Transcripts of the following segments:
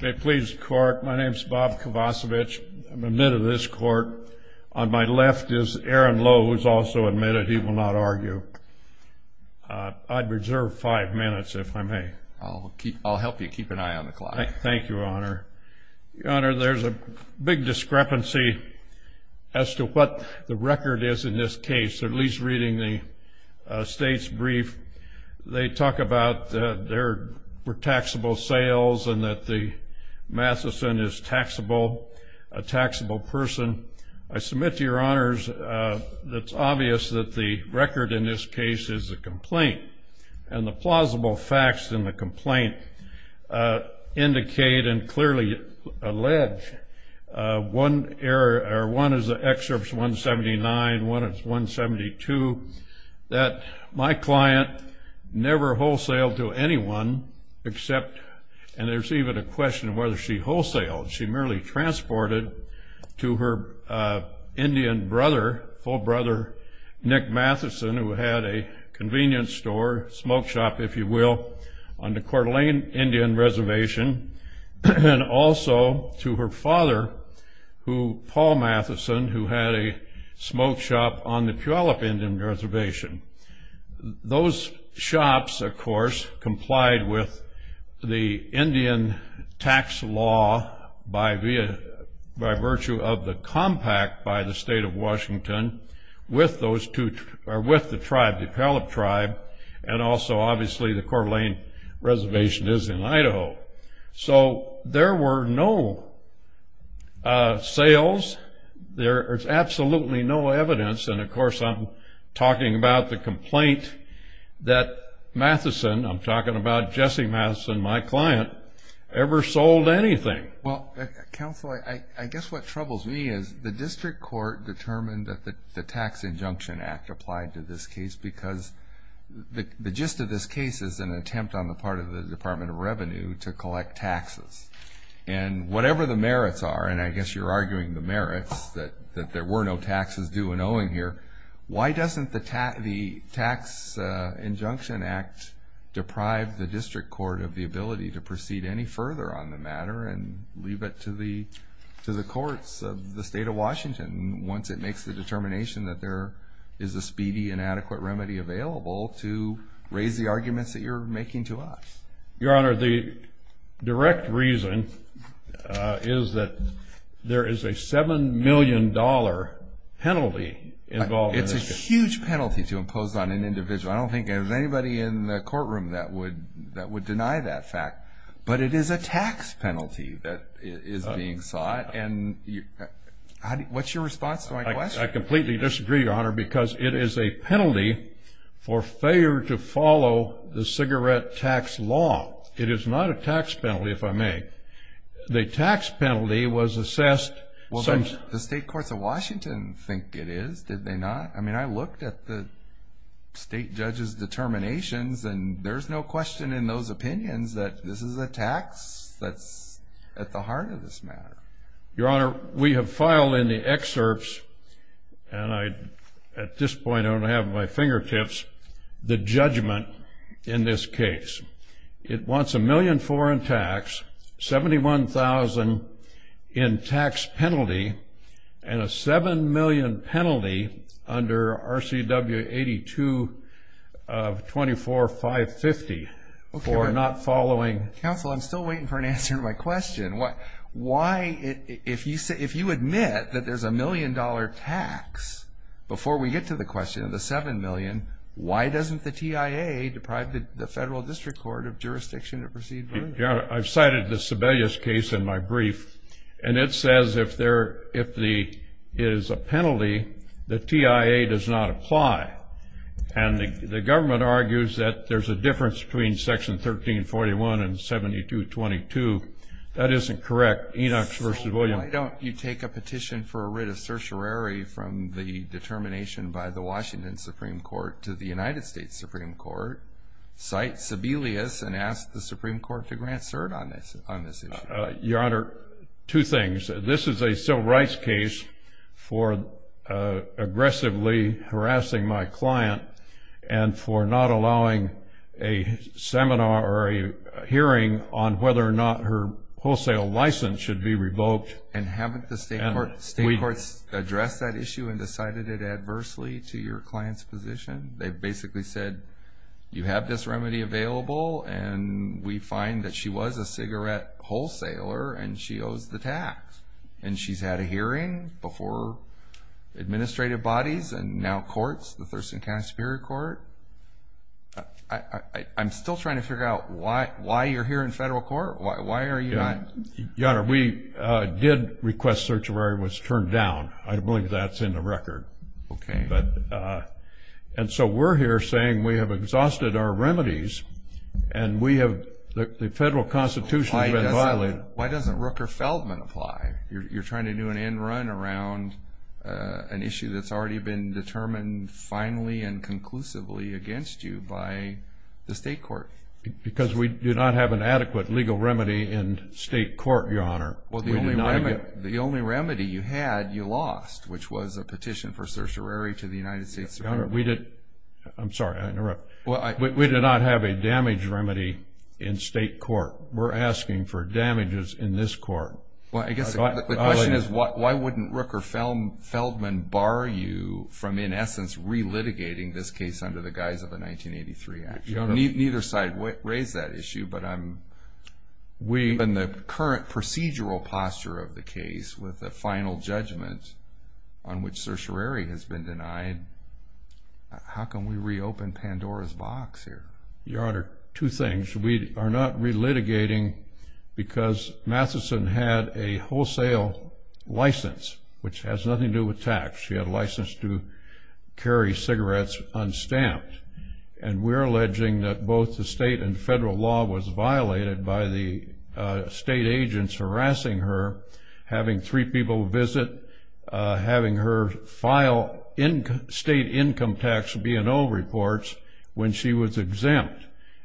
May it please the court, my name is Bob Kovacevich. I'm admit of this court. On my left is Aaron Lowe who is also admitted. He will not argue. I'd reserve five minutes if I may. I'll help you keep an eye on the clock. Thank you, Your Honor. Your Honor, there's a big discrepancy as to what the record is in this case, at least reading the state's brief. They talk about there were taxable sales and that the Matheson is taxable, a taxable person. I submit to Your Honors that it's obvious that the record in this case is a complaint, and the plausible facts in the complaint indicate and clearly allege one error, or one is the excerpts 179, one is 172, that my client never wholesale to anyone except, and there's even a question of whether she wholesale. She merely transported to her Indian brother, full brother, Nick Matheson, who had a convenience store, smoke shop, if you will, on the Coeur d'Alene Indian Reservation, and also to her father, Paul Matheson, who had a smoke shop on the Puyallup Indian Reservation. Those shops, of course, complied with the Indian tax law by virtue of the compact by the State of Washington with the tribe, the Puyallup tribe, and also obviously the Coeur d'Alene Reservation is in Idaho. So there were no sales. There is absolutely no evidence, and of course I'm talking about the complaint that Matheson, I'm talking about Jesse Matheson, my client, ever sold anything. Well, counsel, I guess what troubles me is the district court determined that the tax injunction act applied to this case because the gist of this case is an attempt on the part of the Department of Revenue to collect taxes, and whatever the merits are, and I guess you're arguing the merits that there were no taxes due and owing here, why doesn't the tax injunction act deprive the district court of the ability to proceed any further on the matter? Leave it to the courts of the State of Washington once it makes the determination that there is a speedy and adequate remedy available to raise the arguments that you're making to us. Your Honor, the direct reason is that there is a $7 million penalty involved in this case. It's a huge penalty to impose on an individual. I don't think there's anybody in the courtroom that would deny that fact, but it is a tax penalty that is being sought, and what's your response to my question? I completely disagree, Your Honor, because it is a penalty for failure to follow the cigarette tax law. It is not a tax penalty, if I may. The tax penalty was assessed... The state courts of Washington think it is, did they not? I mean, I looked at the state judges' determinations, and there's no question in those opinions that this is a tax that's at the heart of this matter. Your Honor, we have filed in the excerpts, and at this point I don't have it at my fingertips, the judgment in this case. It wants $1,000,000 for in tax, $71,000 in tax penalty, and a $7 million penalty under RCW 82 of 24550 for not following... Counsel, I'm still waiting for an answer to my question. If you admit that there's a $1,000,000 tax before we get to the question of the $7 million, why doesn't the TIA deprive the federal district court of jurisdiction to proceed further? Your Honor, I've cited the Sebelius case in my brief, and it says if there is a penalty, the TIA does not apply. And the government argues that there's a difference between Section 1341 and 7222. That isn't correct. Enochs v. Williams... Your Honor, two things. This is a civil rights case for aggressively harassing my client and for not allowing a seminar or a hearing on whether or not her wholesale license should be revoked. And haven't the state courts addressed that issue and decided it adversely to your client's position? They've basically said, you have this remedy available, and we find that she was a cigarette wholesaler, and she owes the tax. And she's had a hearing before administrative bodies and now courts, the Thurston County Superior Court. I'm still trying to figure out why you're here in federal court. Why are you not... Your Honor, we did request search of her. It was turned down. I believe that's in the record. And so we're here saying we have exhausted our remedies, and the federal constitution has been violated. Why doesn't Rooker-Feldman apply? You're trying to do an end run around an issue that's already been determined finally and conclusively against you by the state court. Because we do not have an adequate legal remedy in state court, Your Honor. Well, the only remedy you had, you lost, which was a petition for certiorari to the United States Supreme Court. Your Honor, we did... I'm sorry, I interrupted. We do not have a damage remedy in state court. We're asking for damages in this court. Well, I guess the question is why wouldn't Rooker-Feldman bar you from, in essence, relitigating this case under the guise of a 1983 action? Your Honor... Neither side raised that issue, but I'm... We... Given the current procedural posture of the case with the final judgment on which certiorari has been denied, how can we reopen Pandora's box here? Your Honor, two things. We are not relitigating because Matheson had a wholesale license, which has nothing to do with tax. She had a license to carry cigarettes unstamped, and we're alleging that both the state and federal law was violated by the state agents harassing her, having three people visit, having her file state income tax B&O reports when she was exempt,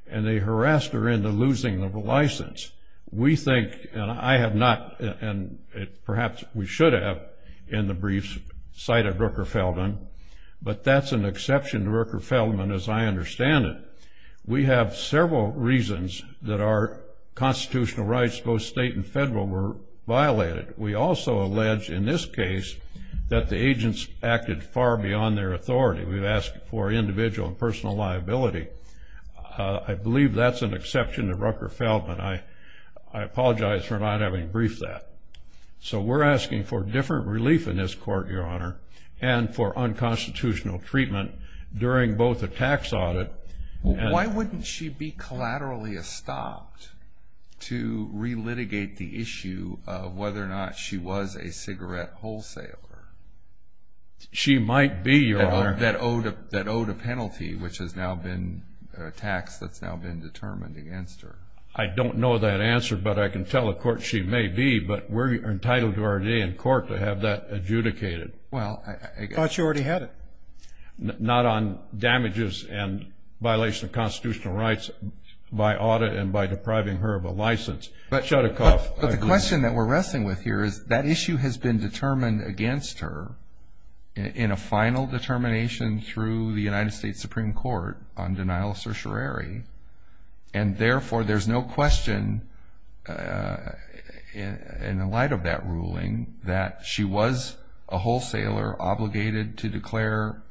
and they harassed her into losing the license. We think, and I have not, and perhaps we should have in the briefs, cited Rooker-Feldman, but that's an exception to Rooker-Feldman as I understand it. We have several reasons that our constitutional rights, both state and federal, were violated. We also allege in this case that the agents acted far beyond their authority. We've asked for individual and personal liability. I believe that's an exception to Rooker-Feldman. I apologize for not having briefed that. So we're asking for different relief in this court, Your Honor, and for unconstitutional treatment during both a tax audit. Why wouldn't she be collaterally estopped to relitigate the issue of whether or not she was a cigarette wholesaler? She might be, Your Honor. That owed a penalty, which has now been a tax that's now been determined against her. I don't know that answer, but I can tell the court she may be, but we're entitled to our day in court to have that adjudicated. Well, I guess. I thought you already had it. Not on damages and violation of constitutional rights by audit and by depriving her of a license. But the question that we're wrestling with here is that issue has been determined against her in a final determination through the There's no question in the light of that ruling that she was a wholesaler obligated to declare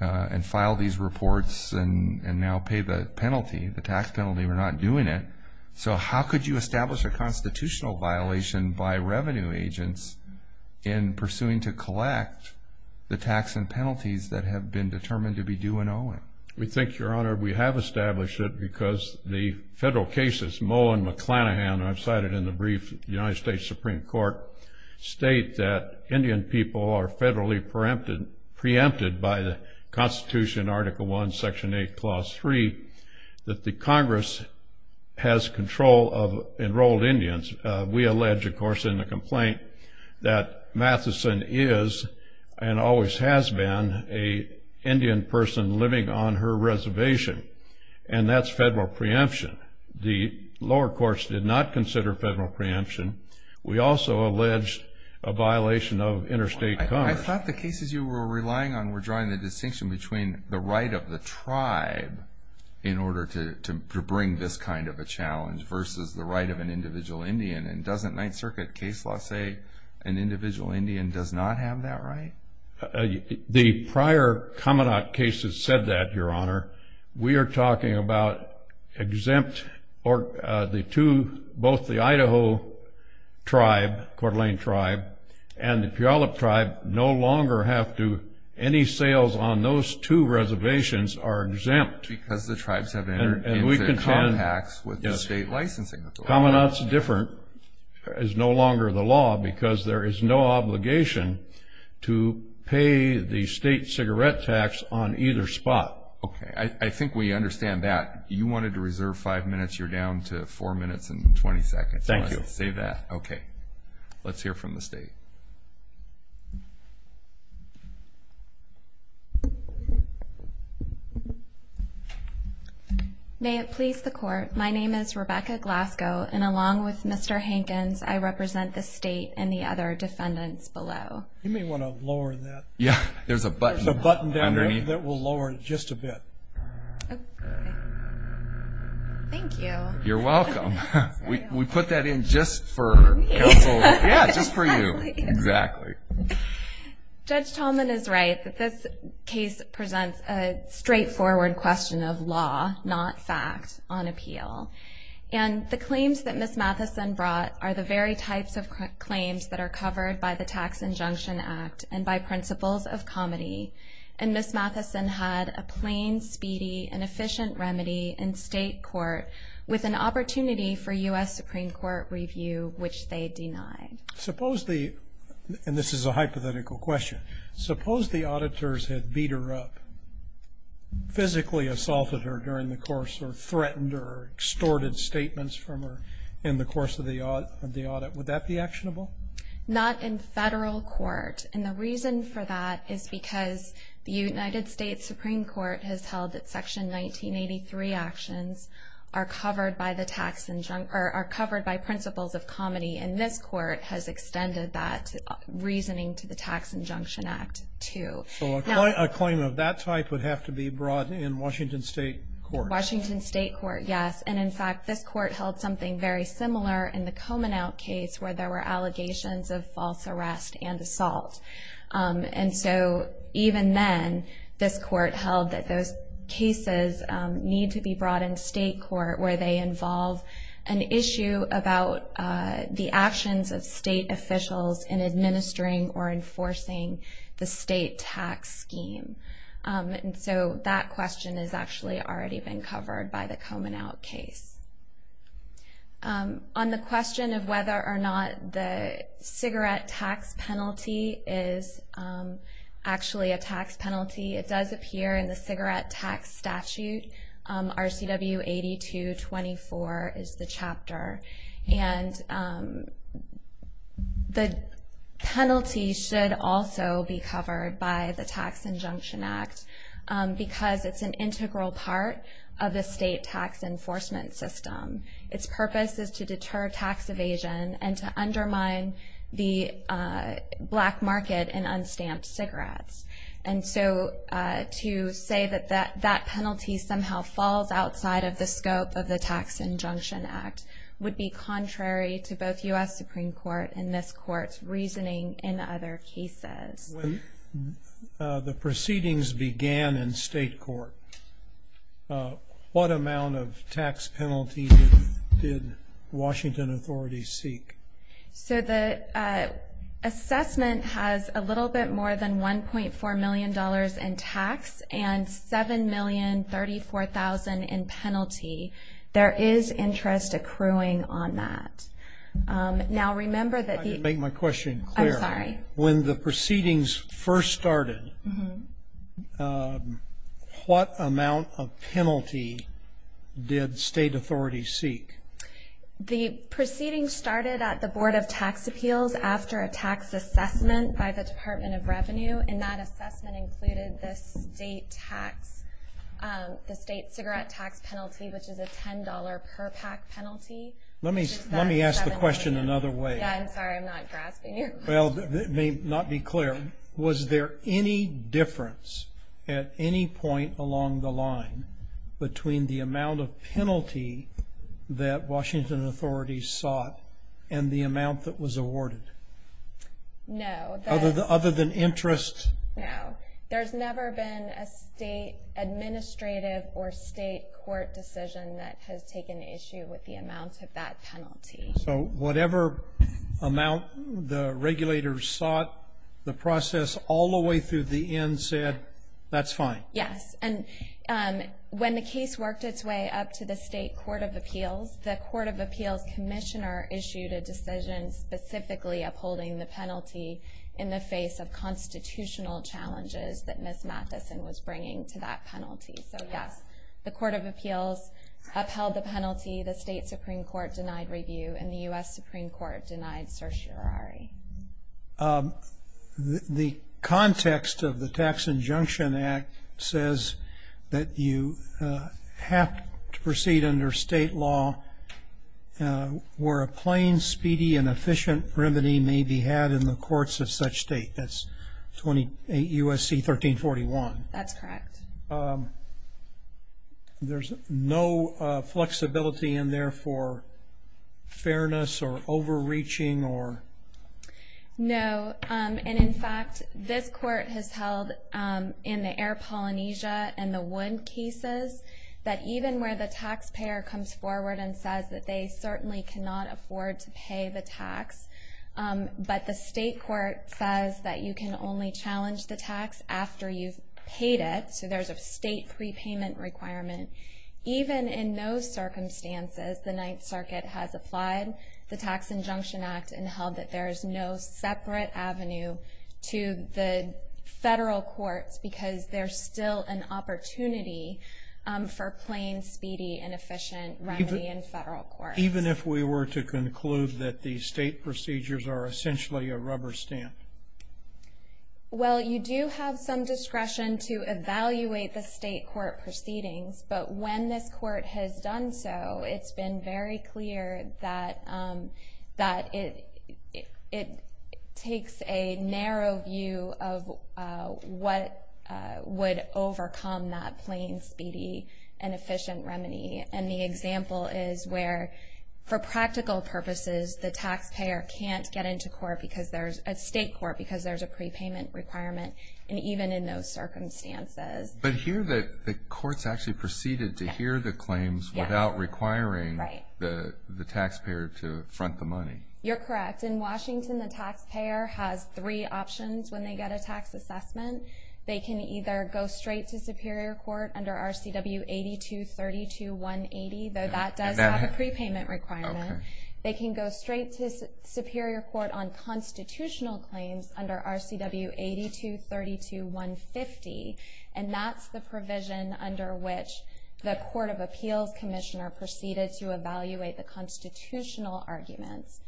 and file these reports and now pay the penalty, the tax penalty, or not doing it. So how could you establish a constitutional violation by revenue agents in pursuing to collect the tax and penalties that have been determined to be due and owing? We think, Your Honor, we have established it because the federal cases, Moe and McClanahan, I've cited in the brief of the United States Supreme Court, state that Indian people are federally preempted by the Constitution, Article I, Section 8, Clause 3, that the Congress has control of enrolled Indians. We allege, of course, in the complaint that Matheson is and always has been an Indian person living on her reservation, and that's federal preemption. The lower courts did not consider federal preemption. We also allege a violation of interstate commerce. I thought the cases you were relying on were drawing the distinction between the right of the tribe in order to bring this kind of a challenge versus the right of an individual Indian. And doesn't Ninth Circuit case law say an individual Indian does not have that right? The prior Kaminak cases said that, Your Honor. We are talking about exempt or the two, both the Idaho tribe, Coeur d'Alene tribe, and the Puyallup tribe no longer have to, any sales on those two reservations are exempt. And we contend Kaminak's different is no longer the law because there is no obligation to pay the state cigarette tax on either spot. Okay. I think we understand that. You wanted to reserve five minutes. You're down to four minutes and 20 seconds. Thank you. Save that. Okay. Let's hear from the state. May it please the Court. My name is Rebecca Glasgow, and along with Mr. Hankins, I represent the state and the other defendants below. You may want to lower that. Yeah. There's a button. There's a button down there that will lower it just a bit. Okay. Thank you. You're welcome. We put that in just for counsel. Yeah, just for you. Exactly. Judge Tallman is right that this case presents a straightforward question of law, not fact, on appeal. And the claims that Ms. Mathison brought are the very types of claims that are covered by the Tax Injunction Act and by principles of comedy. And Ms. Mathison had a plain, speedy, and efficient remedy in state court with an opportunity for U.S. Supreme Court review, which they denied. Suppose the – and this is a hypothetical question – suppose the auditors had beat her up, physically assaulted her during the course, or threatened her, extorted statements from her in the course of the audit. Would that be actionable? Not in federal court. And the reason for that is because the United States Supreme Court has held that Section 1983 actions are covered by the tax – or are covered by principles of comedy. And this court has extended that reasoning to the Tax Injunction Act, too. So a claim of that type would have to be brought in Washington state court. Washington state court, yes. And, in fact, this court held something very similar in the Komenaut case, where there were allegations of false arrest and assault. And so even then, this court held that those cases need to be brought in state court, where they involve an issue about the actions of state officials in administering or enforcing the state tax scheme. And so that question has actually already been covered by the Komenaut case. On the question of whether or not the cigarette tax penalty is actually a tax penalty, it does appear in the Cigarette Tax Statute. RCW 8224 is the chapter. And the penalty should also be covered by the Tax Injunction Act because it's an integral part of the state tax enforcement system. Its purpose is to deter tax evasion and to undermine the black market in unstamped cigarettes. And so to say that that penalty somehow falls outside of the scope of the Tax Injunction Act would be contrary to both U.S. Supreme Court and this court's reasoning in other cases. When the proceedings began in state court, what amount of tax penalty did Washington authorities seek? So the assessment has a little bit more than $1.4 million in tax and $7,034,000 in penalty. There is interest accruing on that. Now, remember that the – I didn't make my question clear. I'm sorry. When the proceedings first started, what amount of penalty did state authorities seek? The proceedings started at the Board of Tax Appeals after a tax assessment by the Department of Revenue. And that assessment included the state tax – the state cigarette tax penalty, which is a $10 per pack penalty. Let me ask the question another way. Yeah, I'm sorry. I'm not grasping your question. Well, it may not be clear. Was there any difference at any point along the line between the amount of penalty that Washington authorities sought and the amount that was awarded? No. Other than interest? No. There's never been a state administrative or state court decision that has taken issue with the amount of that penalty. So whatever amount the regulators sought, the process all the way through the end said, that's fine? Yes. And when the case worked its way up to the state court of appeals, the court of appeals commissioner issued a decision specifically upholding the penalty in the face of constitutional challenges that Ms. Matheson was bringing to that penalty. So, yes, the court of appeals upheld the penalty. The state Supreme Court denied review, and the U.S. Supreme Court denied certiorari. The context of the Tax Injunction Act says that you have to proceed under state law where a plain, speedy, and efficient remedy may be had in the courts of such state. That's U.S.C. 1341. That's correct. And there's no flexibility in there for fairness or overreaching or? No. And, in fact, this court has held in the air Polynesia and the wood cases that even where the taxpayer comes forward and says that they certainly cannot afford to pay the tax, but the state court says that you can only challenge the tax after you've paid it. So there's a state prepayment requirement. Even in those circumstances, the Ninth Circuit has applied the Tax Injunction Act and held that there is no separate avenue to the federal courts because there's still an opportunity for plain, speedy, and efficient remedy in federal courts. Even if we were to conclude that the state procedures are essentially a rubber stamp? Well, you do have some discretion to evaluate the state court proceedings, but when this court has done so, it's been very clear that it takes a narrow view of what would overcome that plain, speedy, and efficient remedy. And the example is where, for practical purposes, the taxpayer can't get into court because there's a state court because there's a prepayment requirement, and even in those circumstances. But here the courts actually proceeded to hear the claims without requiring the taxpayer to front the money. You're correct. In Washington, the taxpayer has three options when they get a tax assessment. They can either go straight to Superior Court under RCW 8232180, though that does have a prepayment requirement. They can go straight to Superior Court on constitutional claims under RCW 8232150, and that's the provision under which the Court of Appeals Commissioner proceeded to evaluate the constitutional arguments.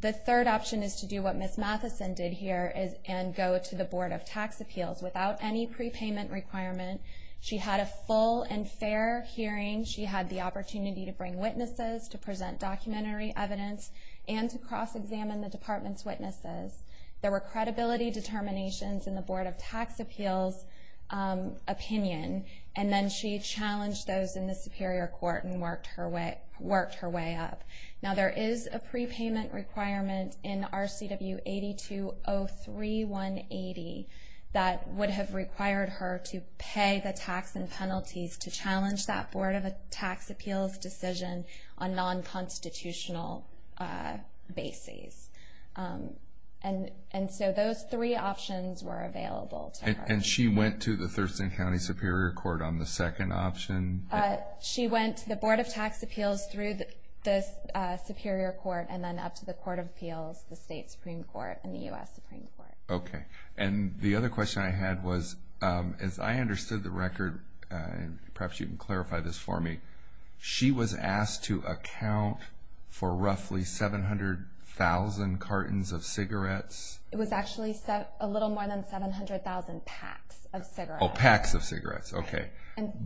The third option is to do what Ms. Mathison did here and go to the Board of Tax Appeals without any prepayment requirement. She had a full and fair hearing. She had the opportunity to bring witnesses, to present documentary evidence, and to cross-examine the department's witnesses. There were credibility determinations in the Board of Tax Appeals' opinion, and then she challenged those in the Superior Court and worked her way up. Now there is a prepayment requirement in RCW 8203180 that would have required her to pay the tax and penalties to challenge that Board of Tax Appeals decision on non-constitutional bases. And so those three options were available to her. And she went to the Thurston County Superior Court on the second option? She went to the Board of Tax Appeals through the Superior Court and then up to the Court of Appeals, the State Supreme Court, and the U.S. Supreme Court. Okay. And the other question I had was, as I understood the record, and perhaps you can clarify this for me, she was asked to account for roughly 700,000 cartons of cigarettes? It was actually a little more than 700,000 packs of cigarettes. Oh, packs of cigarettes. Okay.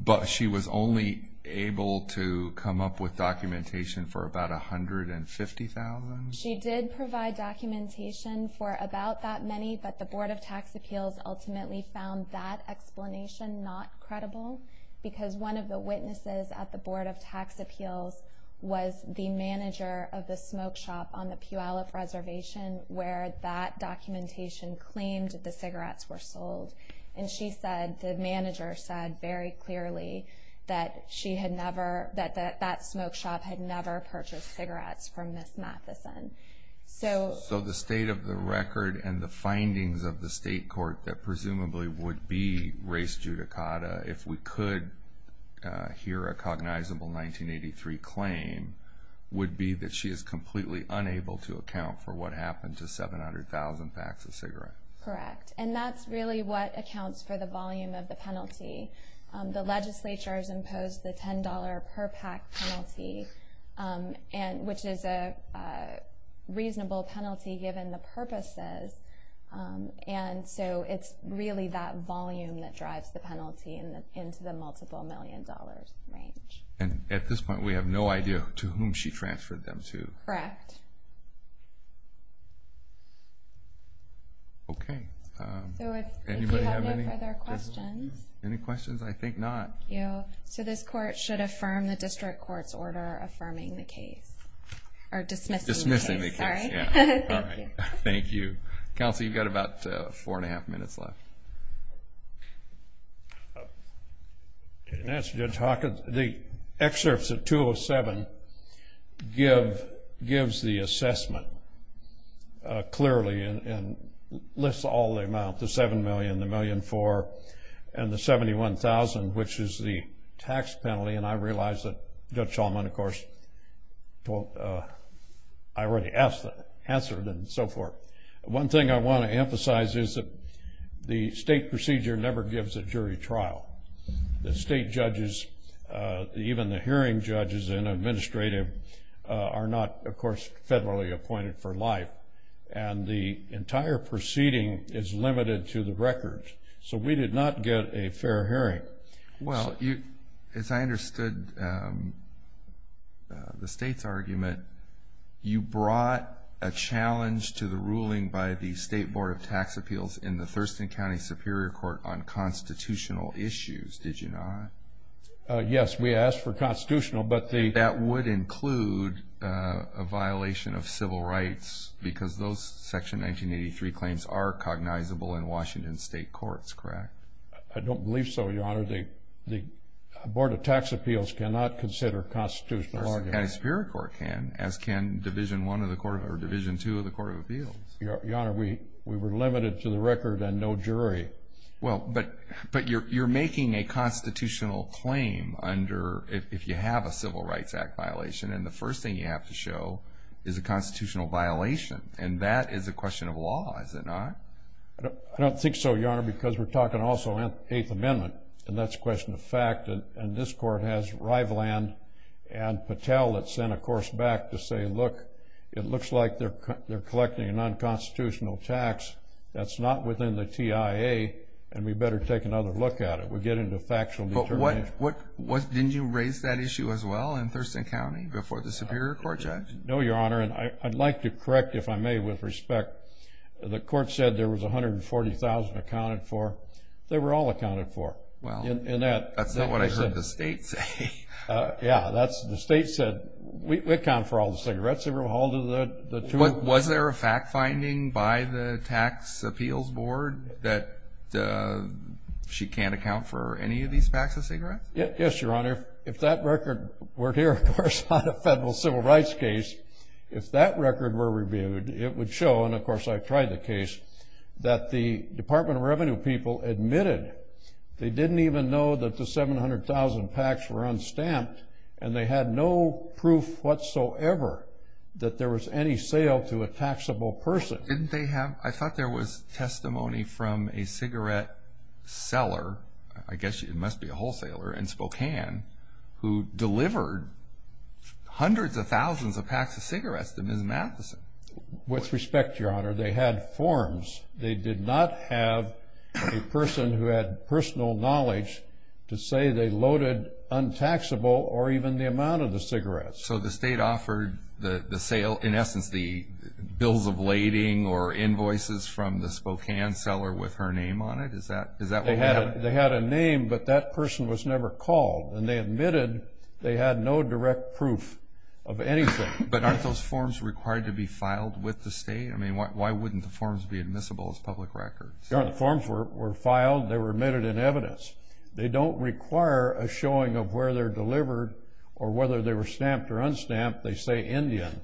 But she was only able to come up with documentation for about 150,000? She did provide documentation for about that many, but the Board of Tax Appeals ultimately found that explanation not credible because one of the witnesses at the Board of Tax Appeals was the manager of the smoke shop on the Puyallup Reservation where that documentation claimed the cigarettes were sold. And she said, the manager said very clearly, that that smoke shop had never purchased cigarettes from Ms. Matheson. So the state of the record and the findings of the state court that presumably would be race judicata, if we could hear a cognizable 1983 claim, would be that she is completely unable to account for what happened to 700,000 packs of cigarettes. Correct. And that's really what accounts for the volume of the penalty. The legislature has imposed the $10 per pack penalty, which is a reasonable penalty given the purposes. And so it's really that volume that drives the penalty into the multiple million dollars range. And at this point we have no idea to whom she transferred them to. Correct. Okay. So if you have no further questions. Any questions? I think not. Thank you. So this court should affirm the district court's order affirming the case. Or dismissing the case. Dismissing the case. Sorry. All right. Thank you. Counsel, you've got about four and a half minutes left. In answer to Judge Hawkins, the excerpts of 207 gives the assessment clearly and lists all the amounts, the $7 million, the $1.4 million, and the $71,000, which is the tax penalty. And I realize that Judge Shulman, of course, I already answered and so forth. One thing I want to emphasize is that the state procedure never gives a jury trial. The state judges, even the hearing judges and administrative, are not, of course, federally appointed for life. And the entire proceeding is limited to the records. So we did not get a fair hearing. Well, as I understood the state's argument, you brought a challenge to the ruling by the State Board of Tax Appeals in the Thurston County Superior Court on constitutional issues, did you not? Yes, we asked for constitutional, but the ---- because those Section 1983 claims are cognizable in Washington state courts, correct? I don't believe so, Your Honor. The Board of Tax Appeals cannot consider constitutional arguments. The Thurston County Superior Court can, as can Division I of the Court of Appeals, or Division II of the Court of Appeals. Your Honor, we were limited to the record and no jury. Well, but you're making a constitutional claim if you have a Civil Rights Act violation, and the first thing you have to show is a constitutional violation, and that is a question of law, is it not? I don't think so, Your Honor, because we're talking also in the Eighth Amendment, and that's a question of fact, and this Court has Rivaland and Patel that sent a course back to say, look, it looks like they're collecting a non-constitutional tax that's not within the TIA, and we better take another look at it. We'll get into factual determination. Didn't you raise that issue as well in Thurston County before the Superior Court, Judge? No, Your Honor, and I'd like to correct, if I may, with respect. The Court said there was 140,000 accounted for. They were all accounted for. That's not what I heard the State say. Yeah, the State said, we account for all the cigarettes. They were all the two of them. Was there a fact-finding by the Tax Appeals Board that she can't account for any of these packs of cigarettes? Yes, Your Honor. If that record were here, of course, on a federal civil rights case, if that record were reviewed, it would show, and of course I've tried the case, that the Department of Revenue people admitted they didn't even know that the 700,000 packs were unstamped, and they had no proof whatsoever that there was any sale to a taxable person. I thought there was testimony from a cigarette seller, I guess it must be a wholesaler in Spokane, who delivered hundreds of thousands of packs of cigarettes to Ms. Matheson. With respect, Your Honor, they had forms. They did not have a person who had personal knowledge to say they loaded untaxable or even the amount of the cigarettes. So the state offered the sale, in essence, the bills of lading or invoices from the Spokane seller with her name on it? Is that what they had? They had a name, but that person was never called, and they admitted they had no direct proof of anything. But aren't those forms required to be filed with the state? I mean, why wouldn't the forms be admissible as public records? Your Honor, the forms were filed, they were admitted in evidence. They don't require a showing of where they're delivered or whether they were stamped or unstamped. They say Indian,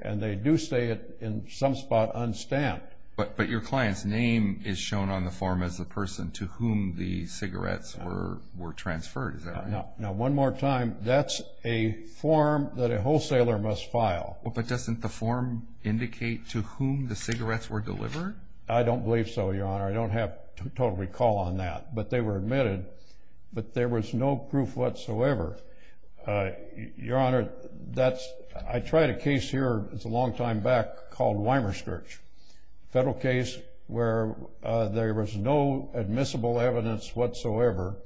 and they do say it in some spot unstamped. But your client's name is shown on the form as the person to whom the cigarettes were transferred, is that right? Now, one more time, that's a form that a wholesaler must file. But doesn't the form indicate to whom the cigarettes were delivered? I don't believe so, Your Honor. I don't have total recall on that, but they were admitted. But there was no proof whatsoever. Your Honor, I tried a case here a long time back called Weimerskirch, a federal case where there was no admissible evidence whatsoever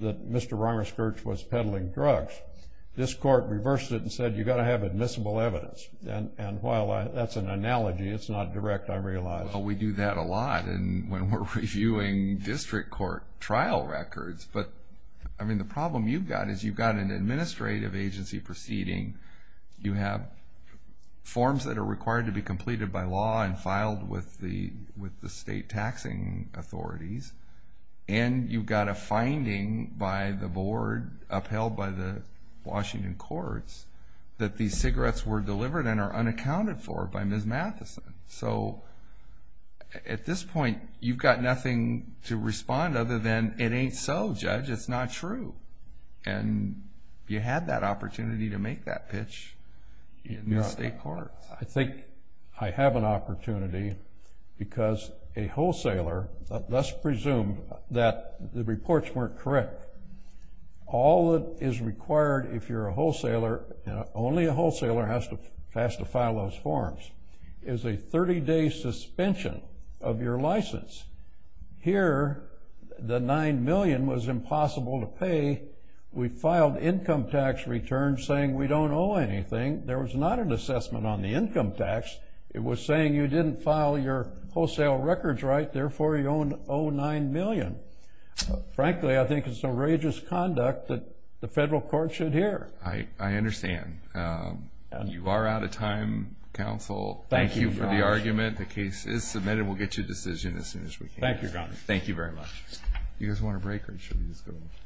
that Mr. Weimerskirch was peddling drugs. This court reversed it and said you've got to have admissible evidence. And while that's an analogy, it's not direct, I realize. Well, we do that a lot when we're reviewing district court trial records. But the problem you've got is you've got an administrative agency proceeding, you have forms that are required to be completed by law and filed with the state taxing authorities, and you've got a finding by the board upheld by the Washington courts that these cigarettes were delivered and are unaccounted for by Ms. Matheson. So at this point, you've got nothing to respond other than it ain't so, Judge. It's not true. And you had that opportunity to make that pitch in the state courts. I think I have an opportunity because a wholesaler, let's presume that the reports weren't correct. All that is required if you're a wholesaler, only a wholesaler has to file those forms, is a 30-day suspension of your license. Here, the $9 million was impossible to pay. We filed income tax returns saying we don't owe anything. There was not an assessment on the income tax. It was saying you didn't file your wholesale records right, therefore you owe $9 million. Frankly, I think it's some outrageous conduct that the federal court should hear. I understand. You are out of time, counsel. Thank you for the argument. The case is submitted. We'll get you a decision as soon as we can. Thank you, Your Honor. Thank you very much.